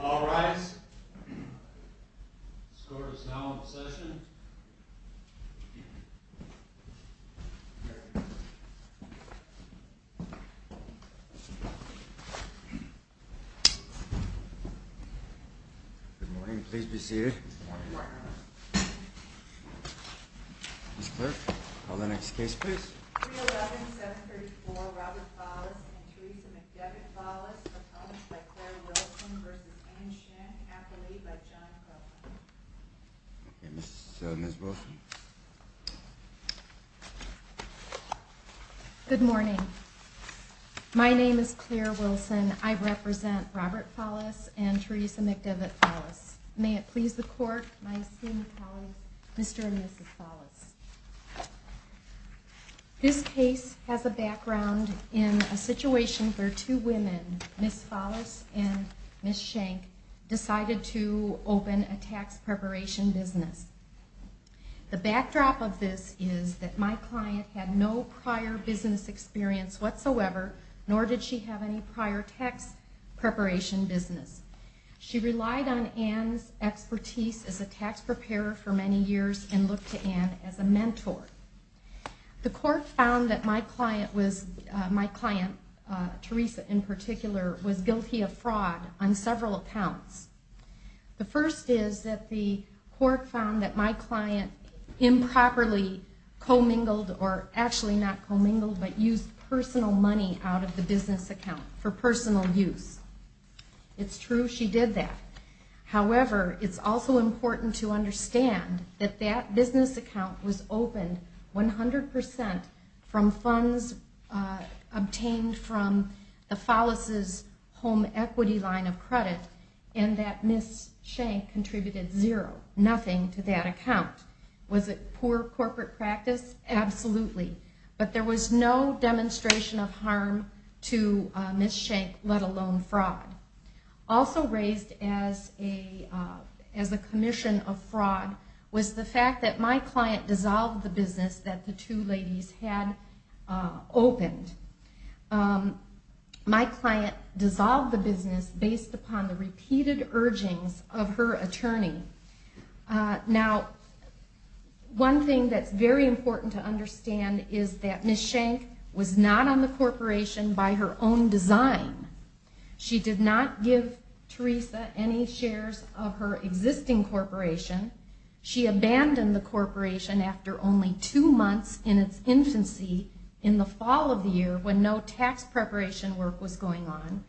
All rise. The score is now in session. Good morning. Please be seated. Ms. Clerk, call the next case, please. 311-734 Robert Follis v. Theresa McDevitt Follis Opposed by Claire Wilson v. Anne Schenck Appalied by John Croft Ms. Wilson Good morning. My name is Claire Wilson. I represent Robert Follis and Theresa McDevitt Follis. May it please the Court, my esteemed colleagues, Mr. and Mrs. Follis. This case has a background in a situation where two women, Ms. Follis and Ms. Schenck, decided to open a tax preparation business. The backdrop of this is that my client had no prior business experience whatsoever, nor did she have any prior tax preparation business. She relied on Anne's expertise as a tax preparer for many years and looked to Anne as a mentor. The Court found that my client, Theresa in particular, was guilty of fraud on several accounts. The first is that the Court found that my client improperly commingled, or actually not commingled, but used personal money out of the business account for personal use. It's true she did that. However, it's also important to understand that that business account was opened 100% from funds obtained from the Follis' home equity line of credit and that Ms. Schenck contributed zero, nothing, to that account. Was it poor corporate practice? Absolutely. But there was no demonstration of harm to Ms. Schenck, let alone fraud. Also raised as a commission of fraud was the fact that my client dissolved the business that the two ladies had opened. My client dissolved the business based upon the repeated urgings of her attorney. Now, one thing that's very important to understand is that Ms. Schenck was not on the corporation by her own design. She did not give Theresa any shares of her existing corporation. She abandoned the corporation after only two months in its infancy in the fall of the year when no tax preparation work was going on.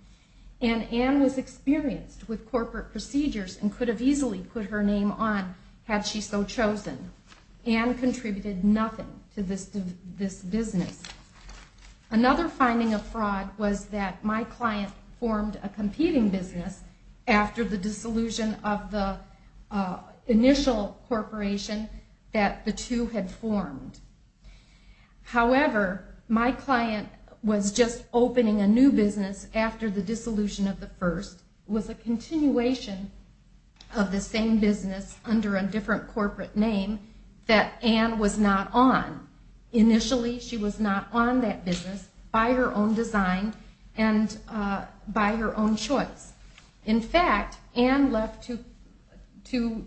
And Ann was experienced with corporate procedures and could have easily put her name on, had she so chosen. Ann contributed nothing to this business. Another finding of fraud was that my client formed a competing business after the dissolution of the initial corporation that the two had formed. However, my client was just opening a new business after the dissolution of the first. It was a continuation of the same business under a different corporate name that Ann was not on. Initially, she was not on that business by her own design and by her own choice. In fact, Ann left to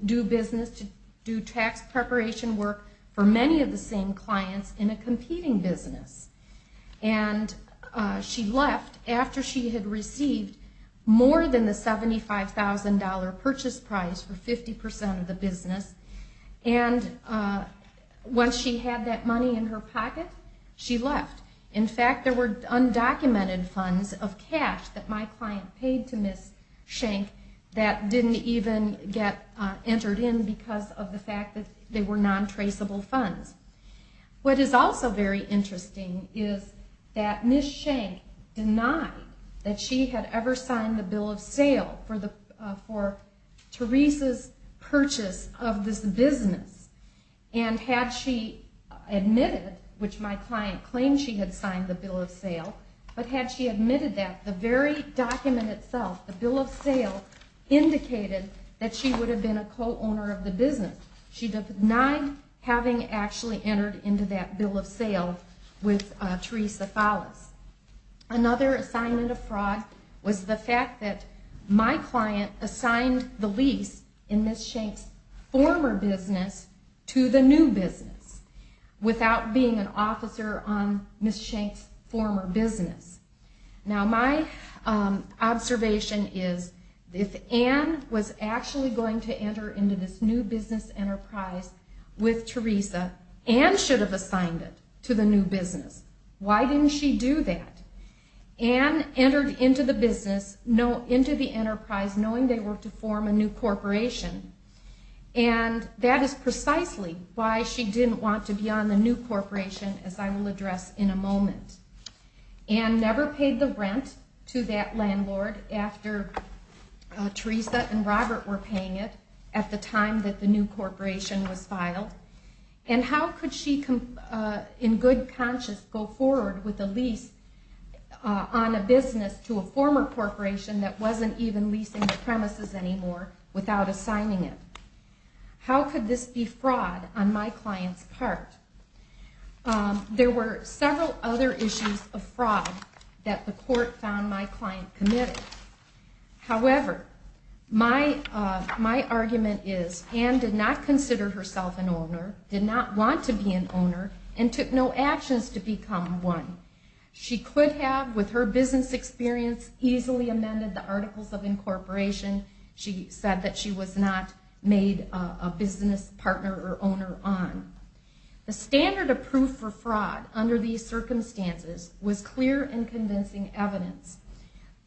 do business, to do tax preparation work for many of the same clients in a competing business. And she left after she had received more than the $75,000 purchase price for 50% of the business. And once she had that money in her pocket, she left. In fact, there were undocumented funds of cash that my client paid to Ms. Schenck that didn't even get entered in because of the fact that they were non-traceable funds. What is also very interesting is that Ms. Schenck denied that she had ever signed the bill of sale for Teresa's purchase of this business. And had she admitted, which my client claimed she had signed the bill of sale, but had she admitted that, the very document itself, the bill of sale, indicated that she would have been a co-owner of the business. She denied having actually entered into that bill of sale with Teresa Thales. Another assignment of fraud was the fact that my client assigned the lease in Ms. Schenck's former business to the new business without being an officer on Ms. Schenck's former business. Now my observation is, if Ann was actually going to enter into this new business enterprise with Teresa, Ann should have assigned it to the new business. Why didn't she do that? Ann entered into the business, into the enterprise, knowing they were to form a new corporation, and that is precisely why she didn't want to be on the new address in a moment. Ann never paid the rent to that landlord after Teresa and Robert were paying it at the time that the new corporation was filed. And how could she, in good conscience, go forward with a lease on a business to a former corporation that wasn't even leasing the premises anymore without assigning it? How could this be fraud on my client's part? There were several other issues of fraud that the court found my client committed. However, my argument is Ann did not consider herself an owner, did not want to be an owner, and took no actions to become one. She could have, with her business experience, easily amended the Articles of Incorporation. She said that she was not made a business partner or owner on. The standard of proof for fraud under these circumstances was clear and convincing evidence.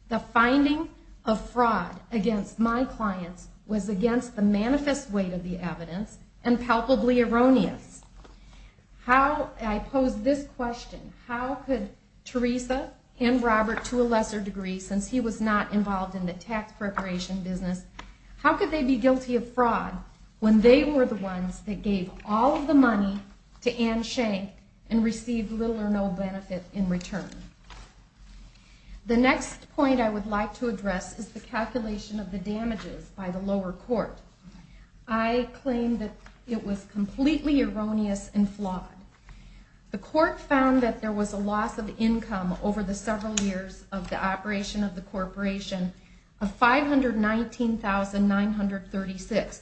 The finding of fraud against my clients was against the manifest weight of the evidence and palpably erroneous. I pose this question. How could Teresa and Robert, to a lesser degree since he was not involved in the tax preparation business, how could they be guilty of fraud when they were the ones that gave all of the money to Ann Schenck and received little or no benefit in return? The next point I would like to address is the calculation of the damages by the lower court. I claim that it was completely erroneous and flawed. The court found that there was a loss of income over the several years of the operation of the corporation of $519,936,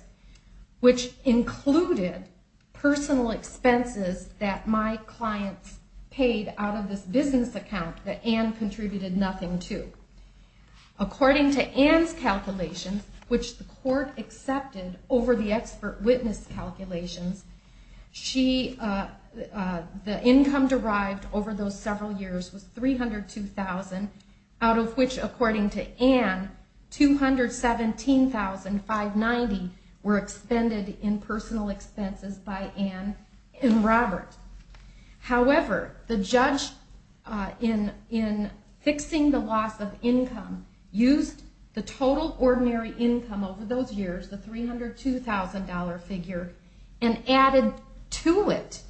which included personal expenses that my clients paid out of this business account that Ann contributed nothing to. According to Ann's calculations, which the court accepted over the expert witness calculations, the income derived over those several years was $302,000, out of which, according to Ann, $217,590 were expended in personal expenses by Ann and Robert. However, the judge in fixing the loss of income used the total ordinary income over those years, the $302,000 figure, and added to it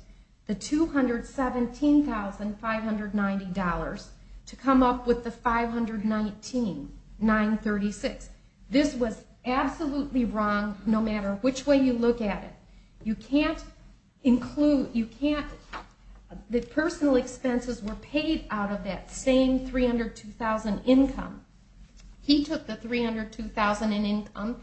the $217,590 to come up with the $519,936. This was absolutely wrong no matter which way you look at it. The personal expenses were paid out of that same $302,000 income. He took the $302,000 in income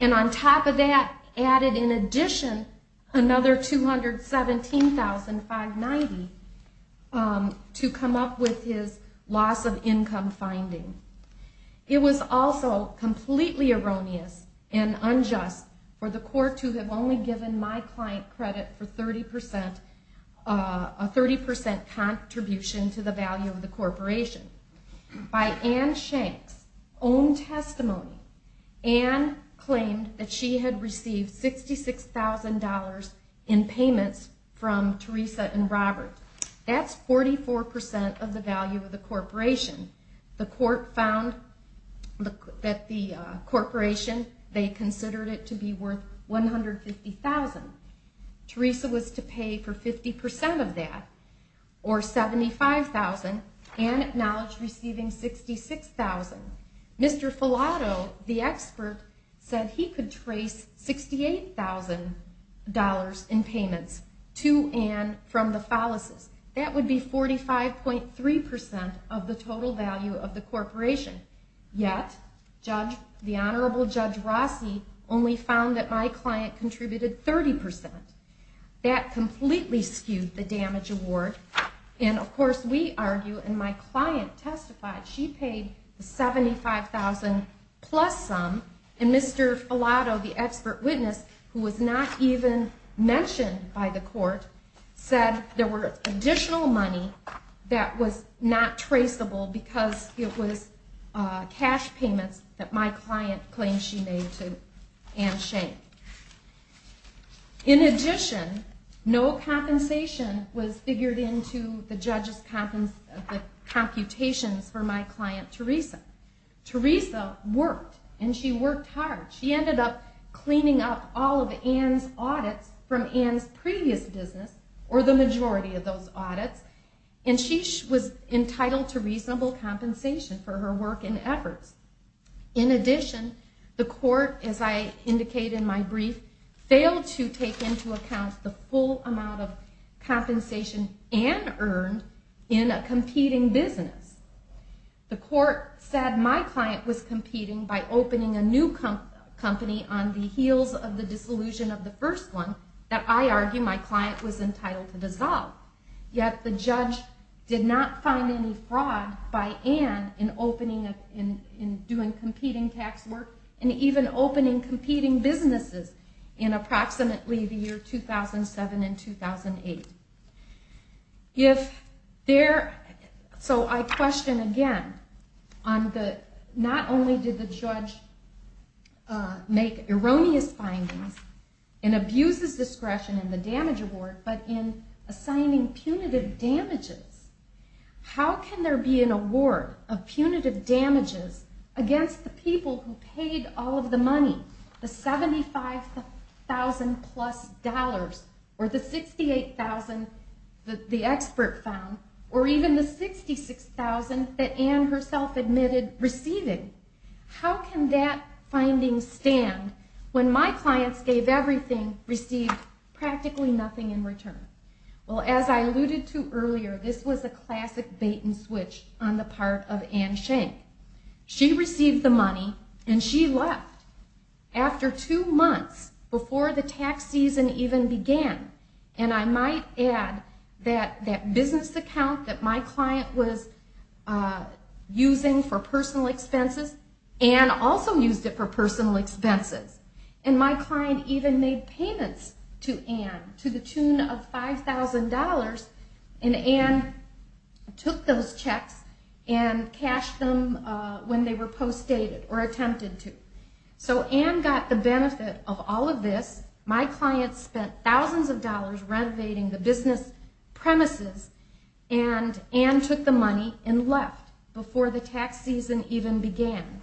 and on top of that added in addition another $217,590 to come up with his loss of income finding. It was also completely erroneous and unjust for the court to have only given my client credit for a 30% contribution to the value of the corporation. By Ann Shank's own testimony, Ann claimed that she had received $66,000 in payments from Teresa and Robert. That's 44% of the value of the corporation. The court found that the corporation, they considered it to be worth $150,000. Teresa was to pay for 50% of that, or $75,000. Ann acknowledged receiving $66,000. Mr. Filato, the expert, said he could trace $68,000 in payments to Ann from the Fallases. That would be 45.3% of the total value of the corporation. Yet, the Honorable Judge Rossi only found that my client contributed 30%. That completely skewed the damage award. Of course, we argue, and my client testified, she paid the $75,000 plus sum. Mr. Filato, the expert witness, who was not even mentioned by the court, said there were additional money that was not traceable because it was cash payments that my client claimed she made to Ann Shank. In addition, no compensation was figured into the judge's computations for my client, Teresa. Teresa worked, and she worked hard. She ended up cleaning up all of Ann's audits from Ann's previous business, or the majority of those audits, and she was entitled to reasonable compensation for her work and efforts. In addition, the court, as I indicated in my brief, failed to take into account the full amount of compensation Ann earned in a competing business. The court said my client was competing by opening a new company on the heels of the dissolution of the first one that I argue my client was entitled to dissolve. Yet, the judge did not find any fraud by Ann in doing competing tax work and even opening competing businesses in approximately the year 2007 and 2008. So I question again, not only did the judge make erroneous findings and abuse his discretion in the damage award, but in assigning punitive damages. How can there be an award of punitive damages against the people who paid all of the money, the $75,000 plus, or the $68,000 that the expert found, or even the $66,000 that Ann herself admitted receiving? How can that finding stand when my clients gave everything, received practically nothing in return? Well, as I alluded to earlier, this was a classic bait and switch on the part of Ann Schenck. She received the money, and she left after two months before the tax season even began. And I might add that that business account that my client was using for personal expenses, Ann also used it for personal expenses. And my client even made payments to Ann to the tune of $5,000, and Ann took those checks and cashed them when they were postdated or attempted to. So Ann got the benefit of all of this. My client spent thousands of dollars renovating the business premises, and Ann took the money and left before the tax season even began.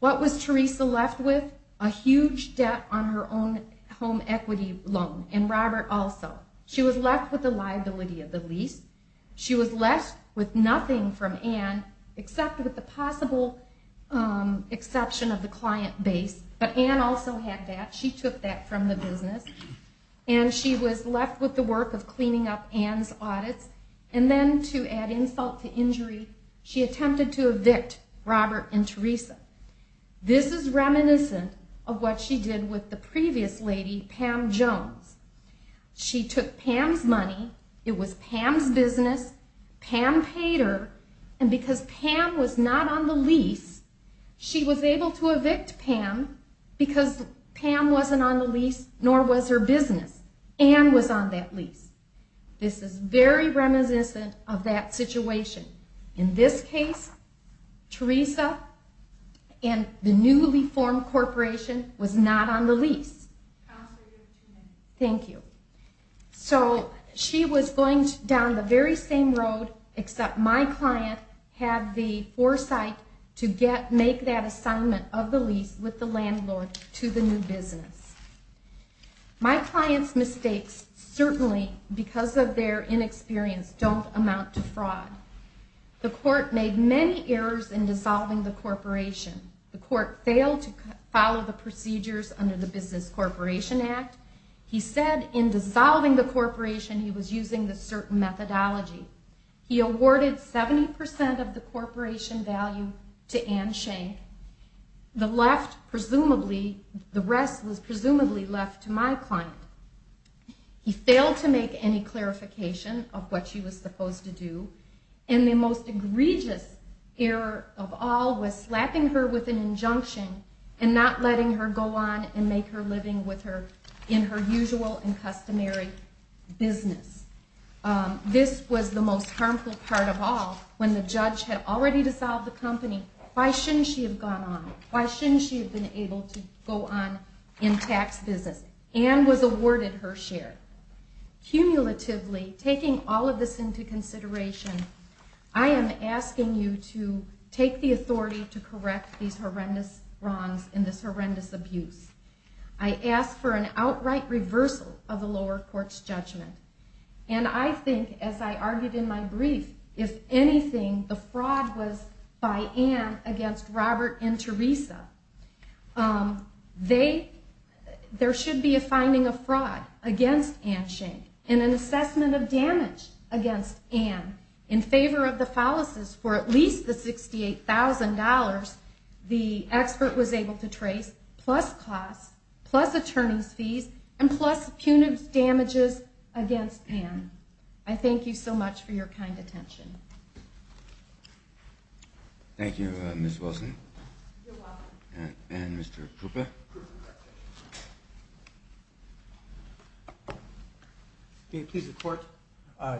What was Teresa left with? A huge debt on her own home equity loan, and Robert also. She was left with the liability of the lease. She was left with nothing from Ann except with the possible exception of the client base, but Ann also had that. She took that from the business, and she was left with the work of cleaning up Ann's audits. And then to add insult to injury, she attempted to evict Robert and Teresa. This is reminiscent of what she did with the previous lady, Pam Jones. She took Pam's money, it was Pam's business, Pam paid her, and because Pam was not on the lease, she was able to evict Pam because Pam wasn't on the lease, nor was her business. Ann was on that lease. This is very reminiscent of that situation. In this case, Teresa and the newly formed corporation was not on the lease. Thank you. So she was going down the very same road, except my client had the foresight to make that assignment of the lease with the landlord to the new business. My client's mistakes certainly, because of their inexperience, don't amount to fraud. The court made many errors in dissolving the corporation. The court failed to follow the procedures under the Business Corporation Act. He said in dissolving the corporation he was using this certain methodology. He awarded 70% of the corporation value to Ann Schenck. The rest was presumably left to my client. He failed to make any clarification of what she was supposed to do, and the most egregious error of all was slapping her with an injunction and not letting her go on and make her living in her usual and customary business. This was the most harmful part of all. When the judge had already dissolved the company, why shouldn't she have gone on? Why shouldn't she have been able to go on in tax business? Ann was awarded her share. Cumulatively, taking all of this into consideration, I am asking you to take the authority to correct these horrendous wrongs and this horrendous abuse. I ask for an outright reversal of the lower court's judgment, and I think, as I argued in my brief, if anything, the fraud was by Ann against Robert and Teresa. There should be a finding of fraud against Ann Schenck and an assessment of damage against Ann in favor of the fallacies for at least the $68,000 the expert was able to trace, plus costs, plus attorney's fees, and plus punitive damages against Ann. I thank you so much for your kind attention. Thank you, Ms. Wilson. You're welcome. And Mr. Krupa. May it please the Court,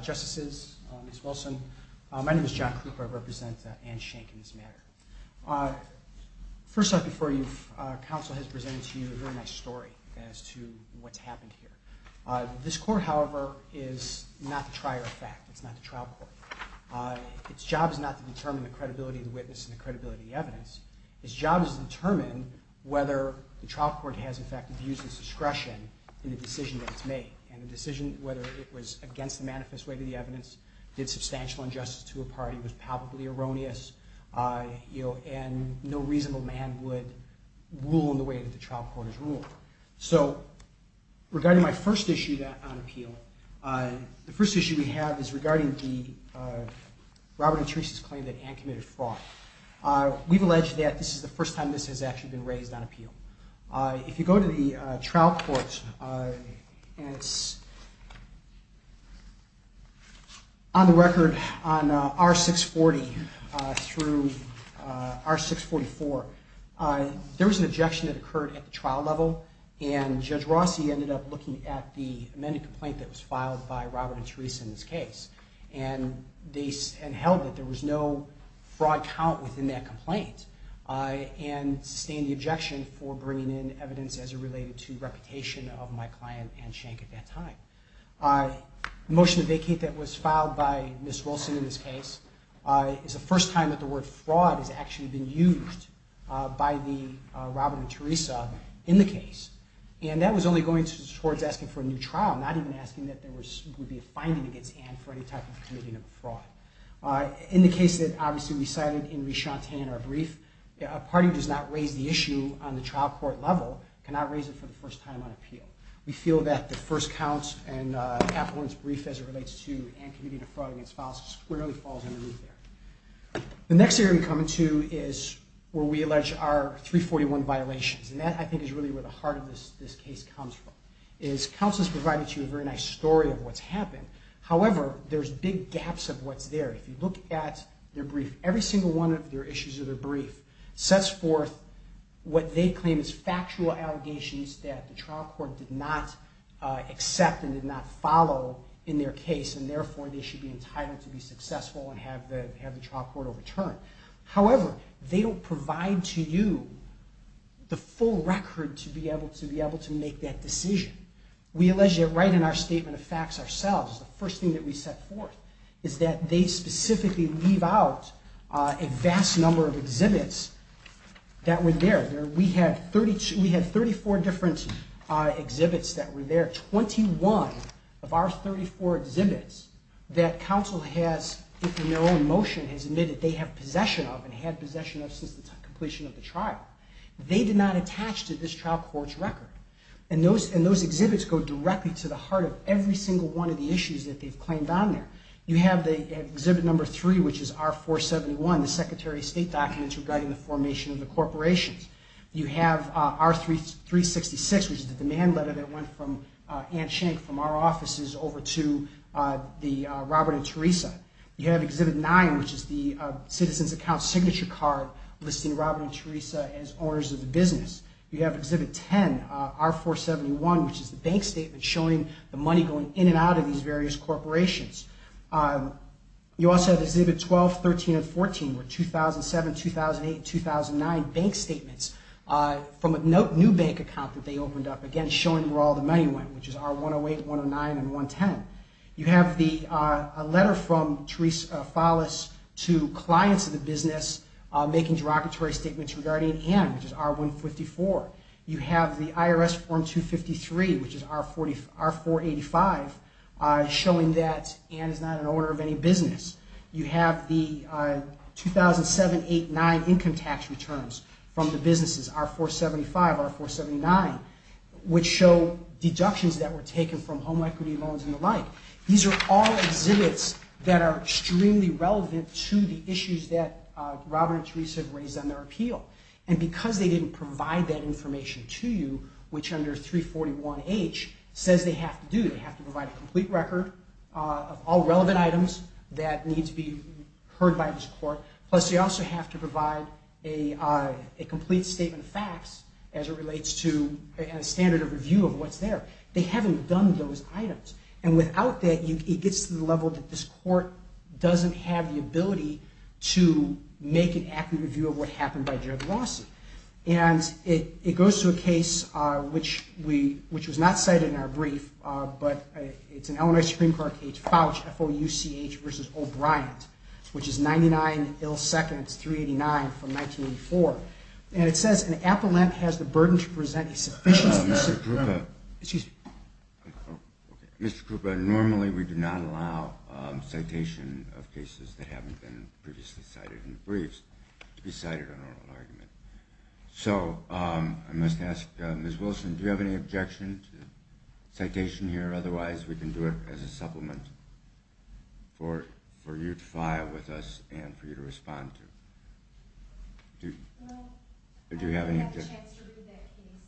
Justices, Ms. Wilson, my name is John Krupa. I represent Ann Schenck in this matter. First off, before you, counsel has presented to you a very nice story as to what's happened here. This court, however, is not the trier of fact. It's not the trial court. Its job is not to determine the credibility of the witness and the credibility of the evidence. Its job is to determine whether the trial court has, in fact, abused its discretion in the decision that it's made. And the decision, whether it was against the manifest way of the evidence, did substantial injustice to a party, was palpably erroneous, and no reasonable man would rule in the way that the trial court has ruled. So regarding my first issue on appeal, the first issue we have is regarding Robert and Teresa's claim that Ann committed fraud. We've alleged that this is the first time this has actually been raised on appeal. If you go to the trial court, and it's on the record on R640 through R644, there was an objection that occurred at the trial level, and Judge Rossi ended up looking at the amended complaint that was filed by Robert and Teresa in this case, and held that there was no fraud count within that complaint, and sustained the objection for bringing in evidence as it related to reputation of my client, Ann Schenck, at that time. The motion to vacate that was filed by Ms. Wilson in this case is the first time that the word fraud has actually been used by the Robert and Teresa in the case, and that was only going towards asking for a new trial, not even asking that there would be a finding against Ann for any type of committing of fraud. In the case that, obviously, we cited in Rishantan, our brief, a party does not raise the issue on the trial court level, cannot raise it for the first time on appeal. We feel that the first counts in Kathleen's brief as it relates to Ann committing a fraud against files squarely falls underneath there. The next area we come to is where we allege our 341 violations, and that, I think, is really where the heart of this case comes from, is counsel has provided to you a very nice story of what's happened. However, there's big gaps of what's there. If you look at their brief, every single one of their issues of their brief sets forth what they claim is factual allegations that the trial court did not accept and did not follow in their case, and therefore, they should be entitled to be successful and have the trial court overturned. However, they don't provide to you the full record to be able to make that decision. We allege that right in our statement of facts ourselves, the first thing that we set forth is that they specifically leave out a vast number of exhibits that were there. We had 34 different exhibits that were there. There are 21 of our 34 exhibits that counsel has, in their own motion, has admitted they have possession of and had possession of since the completion of the trial. They did not attach to this trial court's record, and those exhibits go directly to the heart of every single one of the issues that they've claimed on there. You have exhibit number three, which is R471, the Secretary of State documents regarding the formation of the corporations. You have R366, which is the demand letter that went from Anne Schenck from our offices over to Robert and Teresa. You have exhibit nine, which is the citizen's account signature card listing Robert and Teresa as owners of the business. You have exhibit 10, R471, which is the bank statement showing the money going in and out of these various corporations. You also have exhibit 12, 13, and 14, where 2007, 2008, 2009 bank statements from a new bank account that they opened up, again showing where all the money went, which is R108, 109, and 110. You have a letter from Teresa Follis to clients of the business making derogatory statements regarding Anne, which is R154. You have the IRS Form 253, which is R485, showing that Anne is not an owner of any business. You have the 2007, 2008, 2009 income tax returns from the businesses, R475, R479, which show deductions that were taken from home equity loans and the like. These are all exhibits that are extremely relevant to the issues that Robert and Teresa have raised on their appeal. And because they didn't provide that information to you, which under 341H says they have to do, they have to provide a complete record of all relevant items that need to be heard by this court. Plus, they also have to provide a complete statement of facts as it relates to a standard of review of what's there. They haven't done those items. And without that, it gets to the level that this court doesn't have the ability to make an accurate review of what happened by Jared Rossi. And it goes to a case which was not cited in our brief, but it's an Illinois Supreme Court case, FOUCH, F-O-U-C-H, versus O'Brien's, which is 99-ill-seconds-389 from 1984. And it says an appellant has the burden to present a sufficient... Mr. Krupa. Excuse me. Mr. Krupa, normally we do not allow citation of cases that haven't been previously cited in the briefs to be cited in a normal argument. So I must ask, Ms. Wilson, do you have any objection to citation here? Otherwise, we can do it as a supplement for you to file with us and for you to respond to. Do you have any... I have a chance to review that case.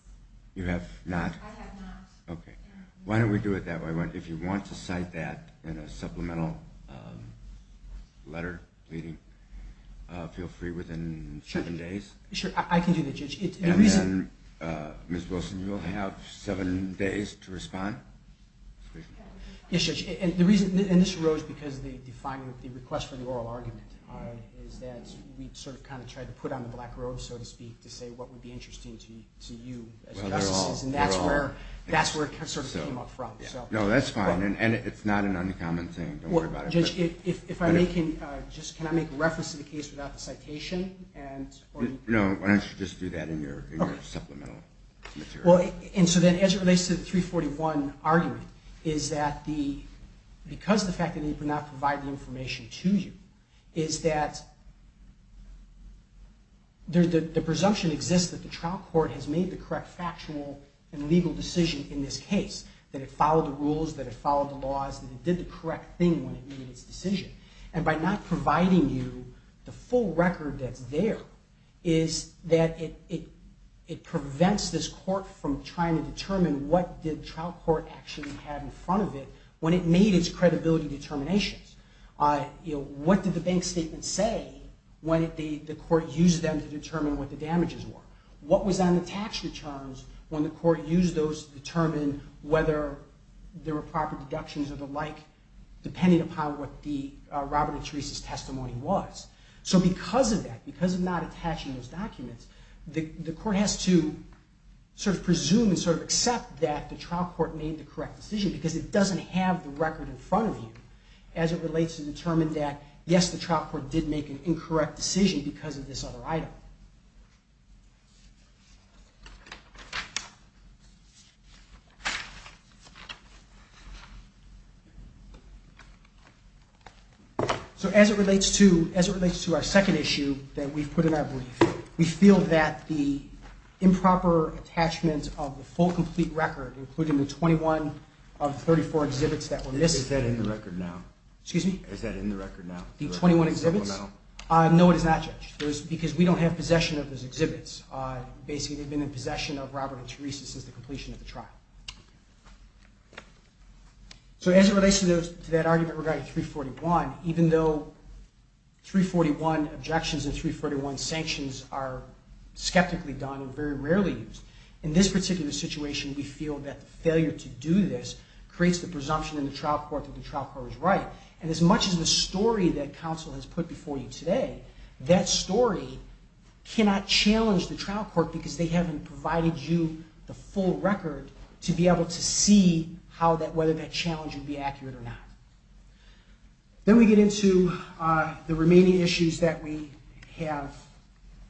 You have not? I have not. Okay. Why don't we do it that way? If you want to cite that in a supplemental letter pleading, feel free within seven days. Sure, I can do that, Judge. And then, Ms. Wilson, you'll have seven days to respond. Yes, Judge. And this arose because the request for the oral argument is that we sort of kind of tried to put on the black robe, so to speak, to say what would be interesting to you as justices. And that's where it sort of came up from. No, that's fine. And it's not an uncommon thing. Don't worry about it. Judge, can I make reference to the case without the citation? No, why don't you just do that in your supplemental material? And so then, as it relates to the 341 argument, is that because of the fact that it would not provide the information to you, is that the presumption exists that the trial court has made the correct factual and legal decision in this case, that it followed the rules, that it followed the laws, that it did the correct thing when it made its decision. And by not providing you the full record that's there, is that it prevents this court from trying to determine what the trial court actually had in front of it when it made its credibility determinations. What did the bank statement say when the court used them to determine what the damages were? What was on the tax returns when the court used those to determine whether there were proper deductions or the like, depending upon what the Robert and Teresa's testimony was? So because of that, because of not attaching those documents, the court has to sort of presume and sort of accept that the trial court made the correct decision because it doesn't have the record in front of you as it relates to determine that, yes, the trial court did make an incorrect decision because of this other item. So as it relates to our second issue that we've put in our brief, we feel that the improper attachment of the full complete record, including the 21 of the 34 exhibits that were missed... Is that in the record now? Excuse me? Is that in the record now? The 21 exhibits? No, it is not, Judge. Because we don't have possession of those exhibits. Basically, they've been in possession of Robert and Teresa since the completion of the trial. So as it relates to that argument regarding 341, even though 341 objections and 341 sanctions are skeptically done and very rarely used, in this particular situation, we feel that the failure to do this creates the presumption in the trial court that the trial court was right. And as much as the story that counsel has put before you today, that story cannot challenge the trial court because they haven't provided you the full record to be able to see whether that challenge would be accurate or not. Then we get into the remaining issues that we have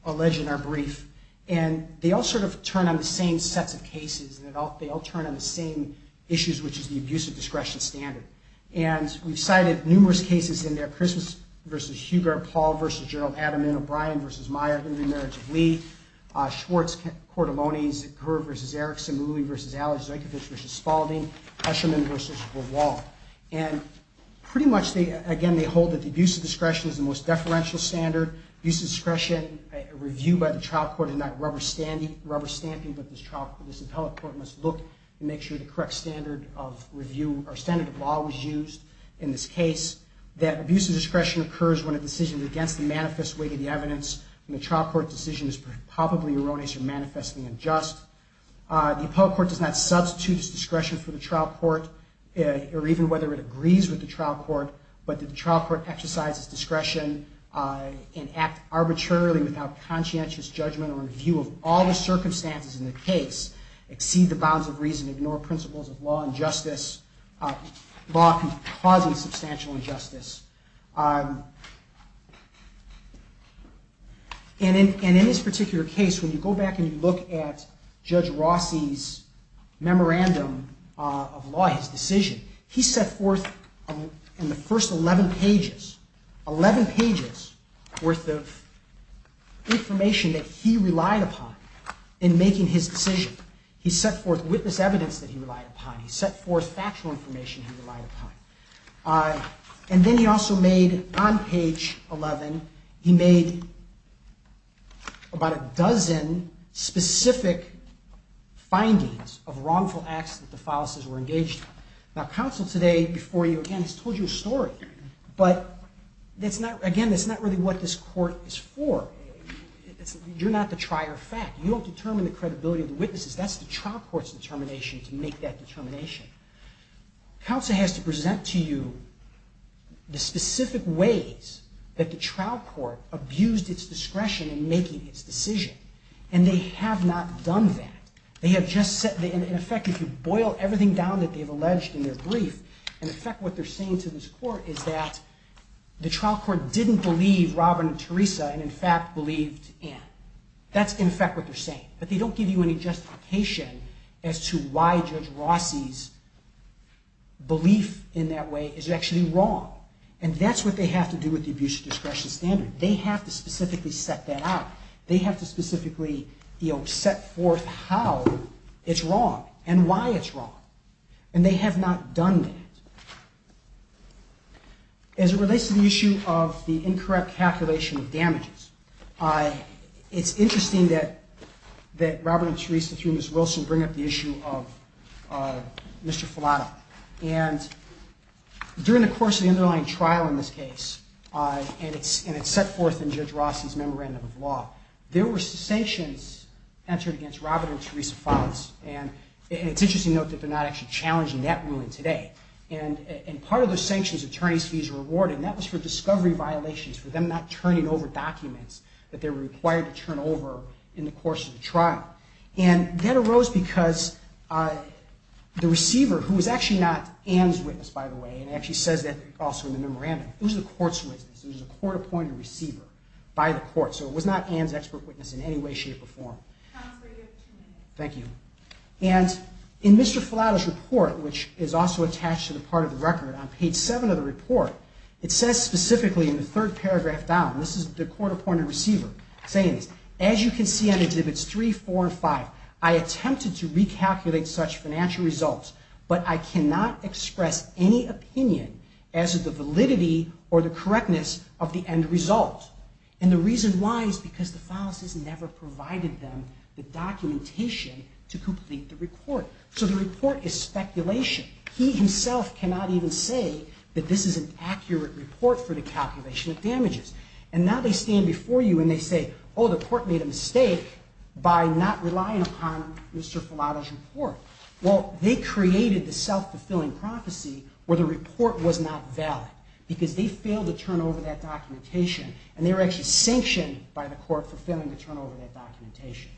alleged in our brief. And they all sort of turn on the same sets of cases. They all turn on the same issues, which is the abuse of discretion standard. And we've cited numerous cases in there. Christmas v. Hubert, Paul v. Gerald Adamin, O'Brien v. Meyer, Henry Merritt of Lee, Schwartz v. Cordelonis, Kerr v. Erickson, Malui v. Allers, Zykovich v. Spaulding, Eshleman v. Verwaal. And pretty much, again, they hold that the abuse of discretion is the most deferential standard. Abuse of discretion review by the trial court is not rubber stamping, but this appellate court must look and make sure the correct standard of review or standard of law was used in this case. That abuse of discretion occurs when a decision is against the manifest weight of the evidence and the trial court decision is palpably erroneous or manifestly unjust. The appellate court does not substitute its discretion for the trial court, or even whether it agrees with the trial court, but the trial court exercises discretion and act arbitrarily without conscientious judgment or review of all the circumstances in the case, exceed the bounds of reason, ignore principles of law and justice. Law can cause substantial injustice. And in this particular case, when you go back and you look at Judge Rossi's memorandum of law, his decision, he set forth in the first 11 pages, 11 pages worth of information that he relied upon in making his decision. He set forth witness evidence that he relied upon. He set forth factual information he relied upon. And then he also made, on page 11, he made about a dozen specific findings of wrongful acts that the fallacies were engaged in. Now, counsel today, before you, again, has told you a story. But, again, that's not really what this court is for. You're not the trier of fact. You don't determine the credibility of the witnesses. That's the trial court's determination to make that determination. Counsel has to present to you the specific ways that the trial court abused its discretion in making its decision. And they have not done that. They have just said, in effect, if you boil everything down that they've alleged in their brief, in effect what they're saying to this court is that the trial court didn't believe Robin and Teresa and, in fact, believed Anne. That's, in effect, what they're saying. But they don't give you any justification as to why Judge Rossi's belief in that way is actually wrong. And that's what they have to do with the abuse of discretion standard. They have to specifically set that out. They have to specifically, you know, set forth how it's wrong and why it's wrong. And they have not done that. As it relates to the issue of the incorrect calculation of damages, it's interesting that Robert and Teresa, through Ms. Wilson, bring up the issue of Mr. Filato. And during the course of the underlying trial in this case, and it's set forth in Judge Rossi's memorandum of law, there were sanctions entered against Robert and Teresa Files. And it's interesting to note that they're not actually challenging that ruling today. And part of the sanctions attorneys fees were awarded, and that was for discovery violations, for them not turning over documents that they were required to turn over in the course of the trial. And that arose because the receiver, who was actually not Ann's witness, by the way, and it actually says that also in the memorandum, it was the court's witness. It was a court-appointed receiver by the court. So it was not Ann's expert witness in any way, shape, or form. Thank you. And in Mr. Filato's report, which is also attached to the part of the record on page 7 of the report, it says specifically in the third paragraph down, this is the court-appointed receiver saying this, as you can see on exhibits 3, 4, and 5, I attempted to recalculate such financial results, but I cannot express any opinion as to the validity or the correctness of the end result. And the reason why is because the Files has never provided them the documentation to complete the report. So the report is speculation. He himself cannot even say that this is an accurate report for the calculation of damages. And now they stand before you and they say, oh, the court made a mistake by not relying upon Mr. Filato's report. Well, they created the self-fulfilling prophecy where the report was not valid because they failed to turn over that documentation, and they were actually sanctioned by the court for failing to turn over that documentation.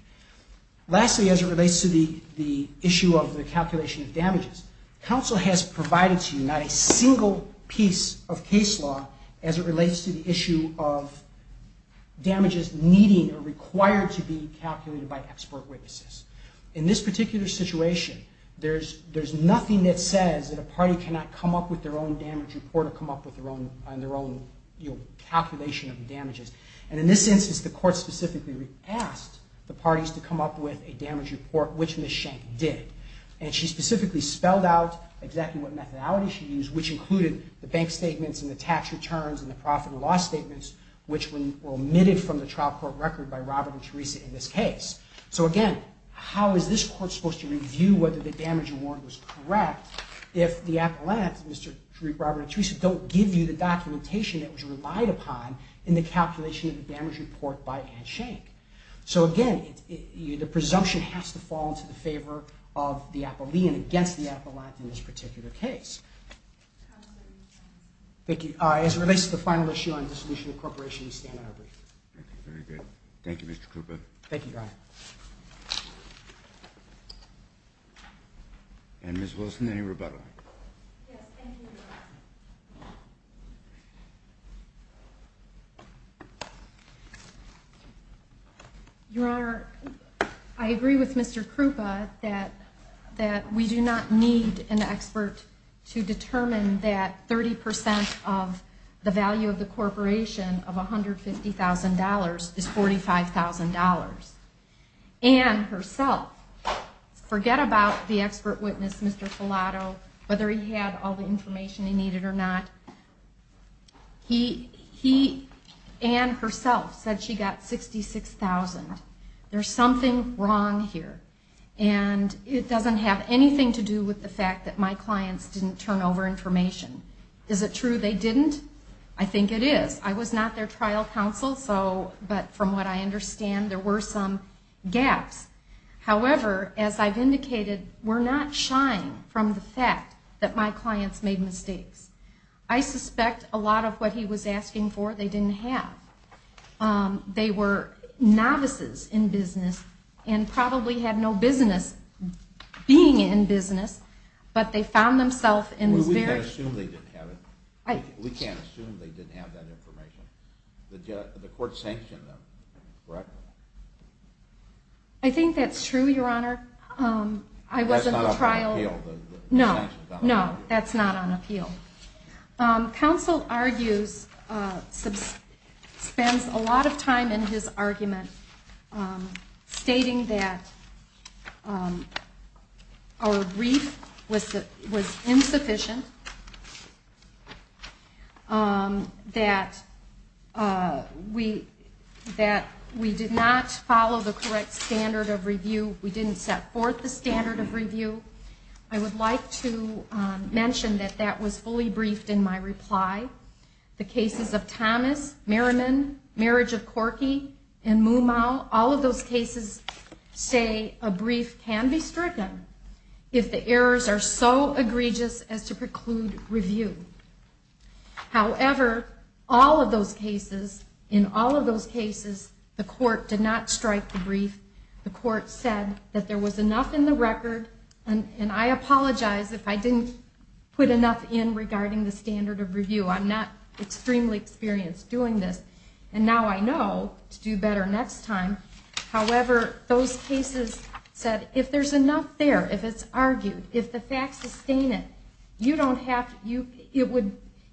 Lastly, as it relates to the issue of the calculation of damages, counsel has provided to you not a single piece of case law as it relates to the issue of damages needing or required to be calculated by expert witnesses. In this particular situation, there's nothing that says that a party cannot come up with their own damage report or come up with their own calculation of damages. And in this instance, the court specifically asked the parties to come up with a damage report, which Ms. Schenck did. And she specifically spelled out exactly what methodology she used, which included the bank statements and the tax returns and the profit and loss statements, which were omitted from the trial court record by Robert and Teresa in this case. So again, how is this court supposed to review whether the damage report was correct if the appellants, Mr. Robert and Teresa, don't give you the documentation that was relied upon in the calculation of the damage report by Anne Schenck? So again, the presumption has to fall into the favor of the appellee and against the appellant in this particular case. Thank you. As it relates to the final issue on dissolution of corporation, we stand on our brief. Thank you. Very good. Thank you, Mr. Krupa. Thank you, Your Honor. And Ms. Wilson, any rebuttal? Yes, thank you. Your Honor, I agree with Mr. Krupa that we do not need an expert to determine that 30% of the value of the corporation of $150,000 is $45,000. Anne herself, forget about the expert witness, Mr. Filato, whether he had all the information he needed or not, he and herself said she got $66,000. There's something wrong here, and it doesn't have anything to do with the fact that my clients didn't turn over information. Is it true they didn't? I think it is. I was not their trial counsel, but from what I understand there were some gaps. However, as I've indicated, we're not shying from the fact that my clients made mistakes. I suspect a lot of what he was asking for they didn't have. They were novices in business and probably had no business being in business, but they found themselves in this very... Well, we can't assume they didn't have it. We can't assume they didn't have that information. The court sanctioned them, correct? I think that's true, Your Honor. That's not on appeal, the sanctions on the value. No, that's not on appeal. Counsel argues, spends a lot of time in his argument, stating that our brief was insufficient, that we did not follow the correct standard of review, I would like to mention that that was fully briefed in my reply. The cases of Thomas, Merriman, Marriage of Corky, and Mumau, all of those cases say a brief can be stricken if the errors are so egregious as to preclude review. However, all of those cases, in all of those cases, the court did not strike the brief. The court said that there was enough in the record, and I apologize if I didn't put enough in regarding the standard of review. I'm not extremely experienced doing this, and now I know to do better next time. However, those cases said if there's enough there, if it's argued, if the facts sustain it, you don't have to...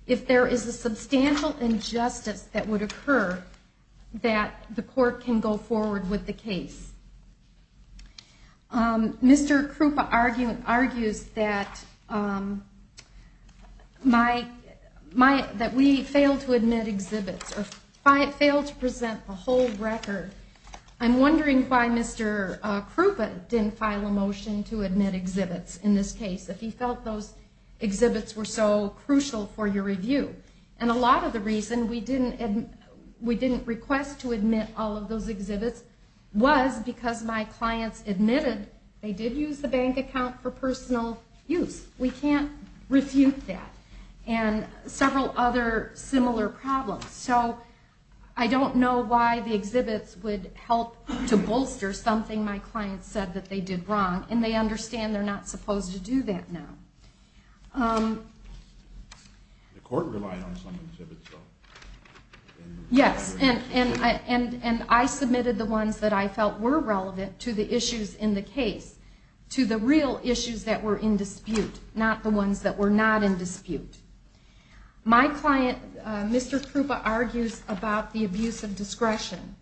If there is a substantial injustice that would occur, that the court can go forward with the case. Mr. Krupa argues that we failed to admit exhibits, or failed to present the whole record. I'm wondering why Mr. Krupa didn't file a motion to admit exhibits in this case, if he felt those exhibits were so crucial for your review. And a lot of the reason we didn't request to admit all of those exhibits was because my clients admitted they did use the bank account for personal use. We can't refute that. And several other similar problems. So I don't know why the exhibits would help to bolster something my clients said that they did wrong, and they understand they're not supposed to do that now. The court relied on some of the exhibits, though. Yes, and I submitted the ones that I felt were relevant to the issues in the case, to the real issues that were in dispute, not the ones that were not in dispute. My client, Mr. Krupa, argues about the abuse of discretion.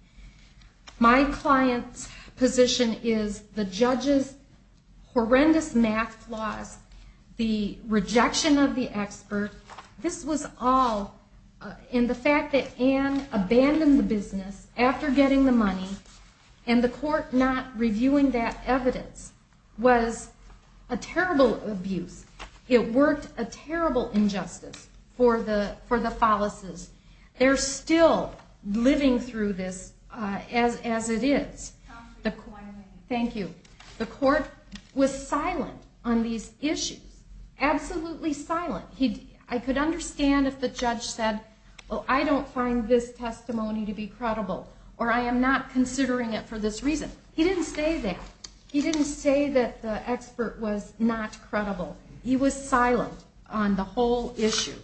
My client's position is the judge's horrendous math flaws, the rejection of the expert. This was all in the fact that Ann abandoned the business after getting the money, and the court not reviewing that evidence was a terrible abuse. It worked a terrible injustice for the Fallisses. They're still living through this as it is. Thank you. The court was silent on these issues. Absolutely silent. I could understand if the judge said, well, I don't find this testimony to be credible, or I am not considering it for this reason. He didn't say that. He didn't say that the expert was not credible. He was silent on the whole issue.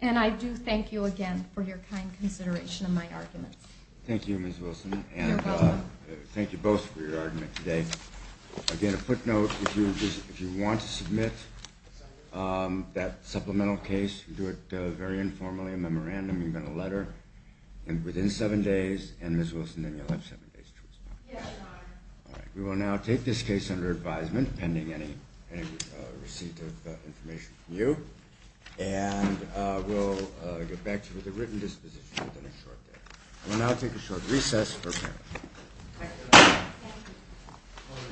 And I do thank you again for your kind consideration of my arguments. Thank you, Ms. Wilson. Thank you both for your argument today. Again, a footnote, if you want to submit that supplemental case, do it very informally, a memorandum, even a letter, and within seven days, and Ms. Wilson, then you'll have seven days to respond. We will now take this case under advisement, pending any receipt of information from you, and we'll get back to you with a written disposition within a short day. We'll now take a short recess.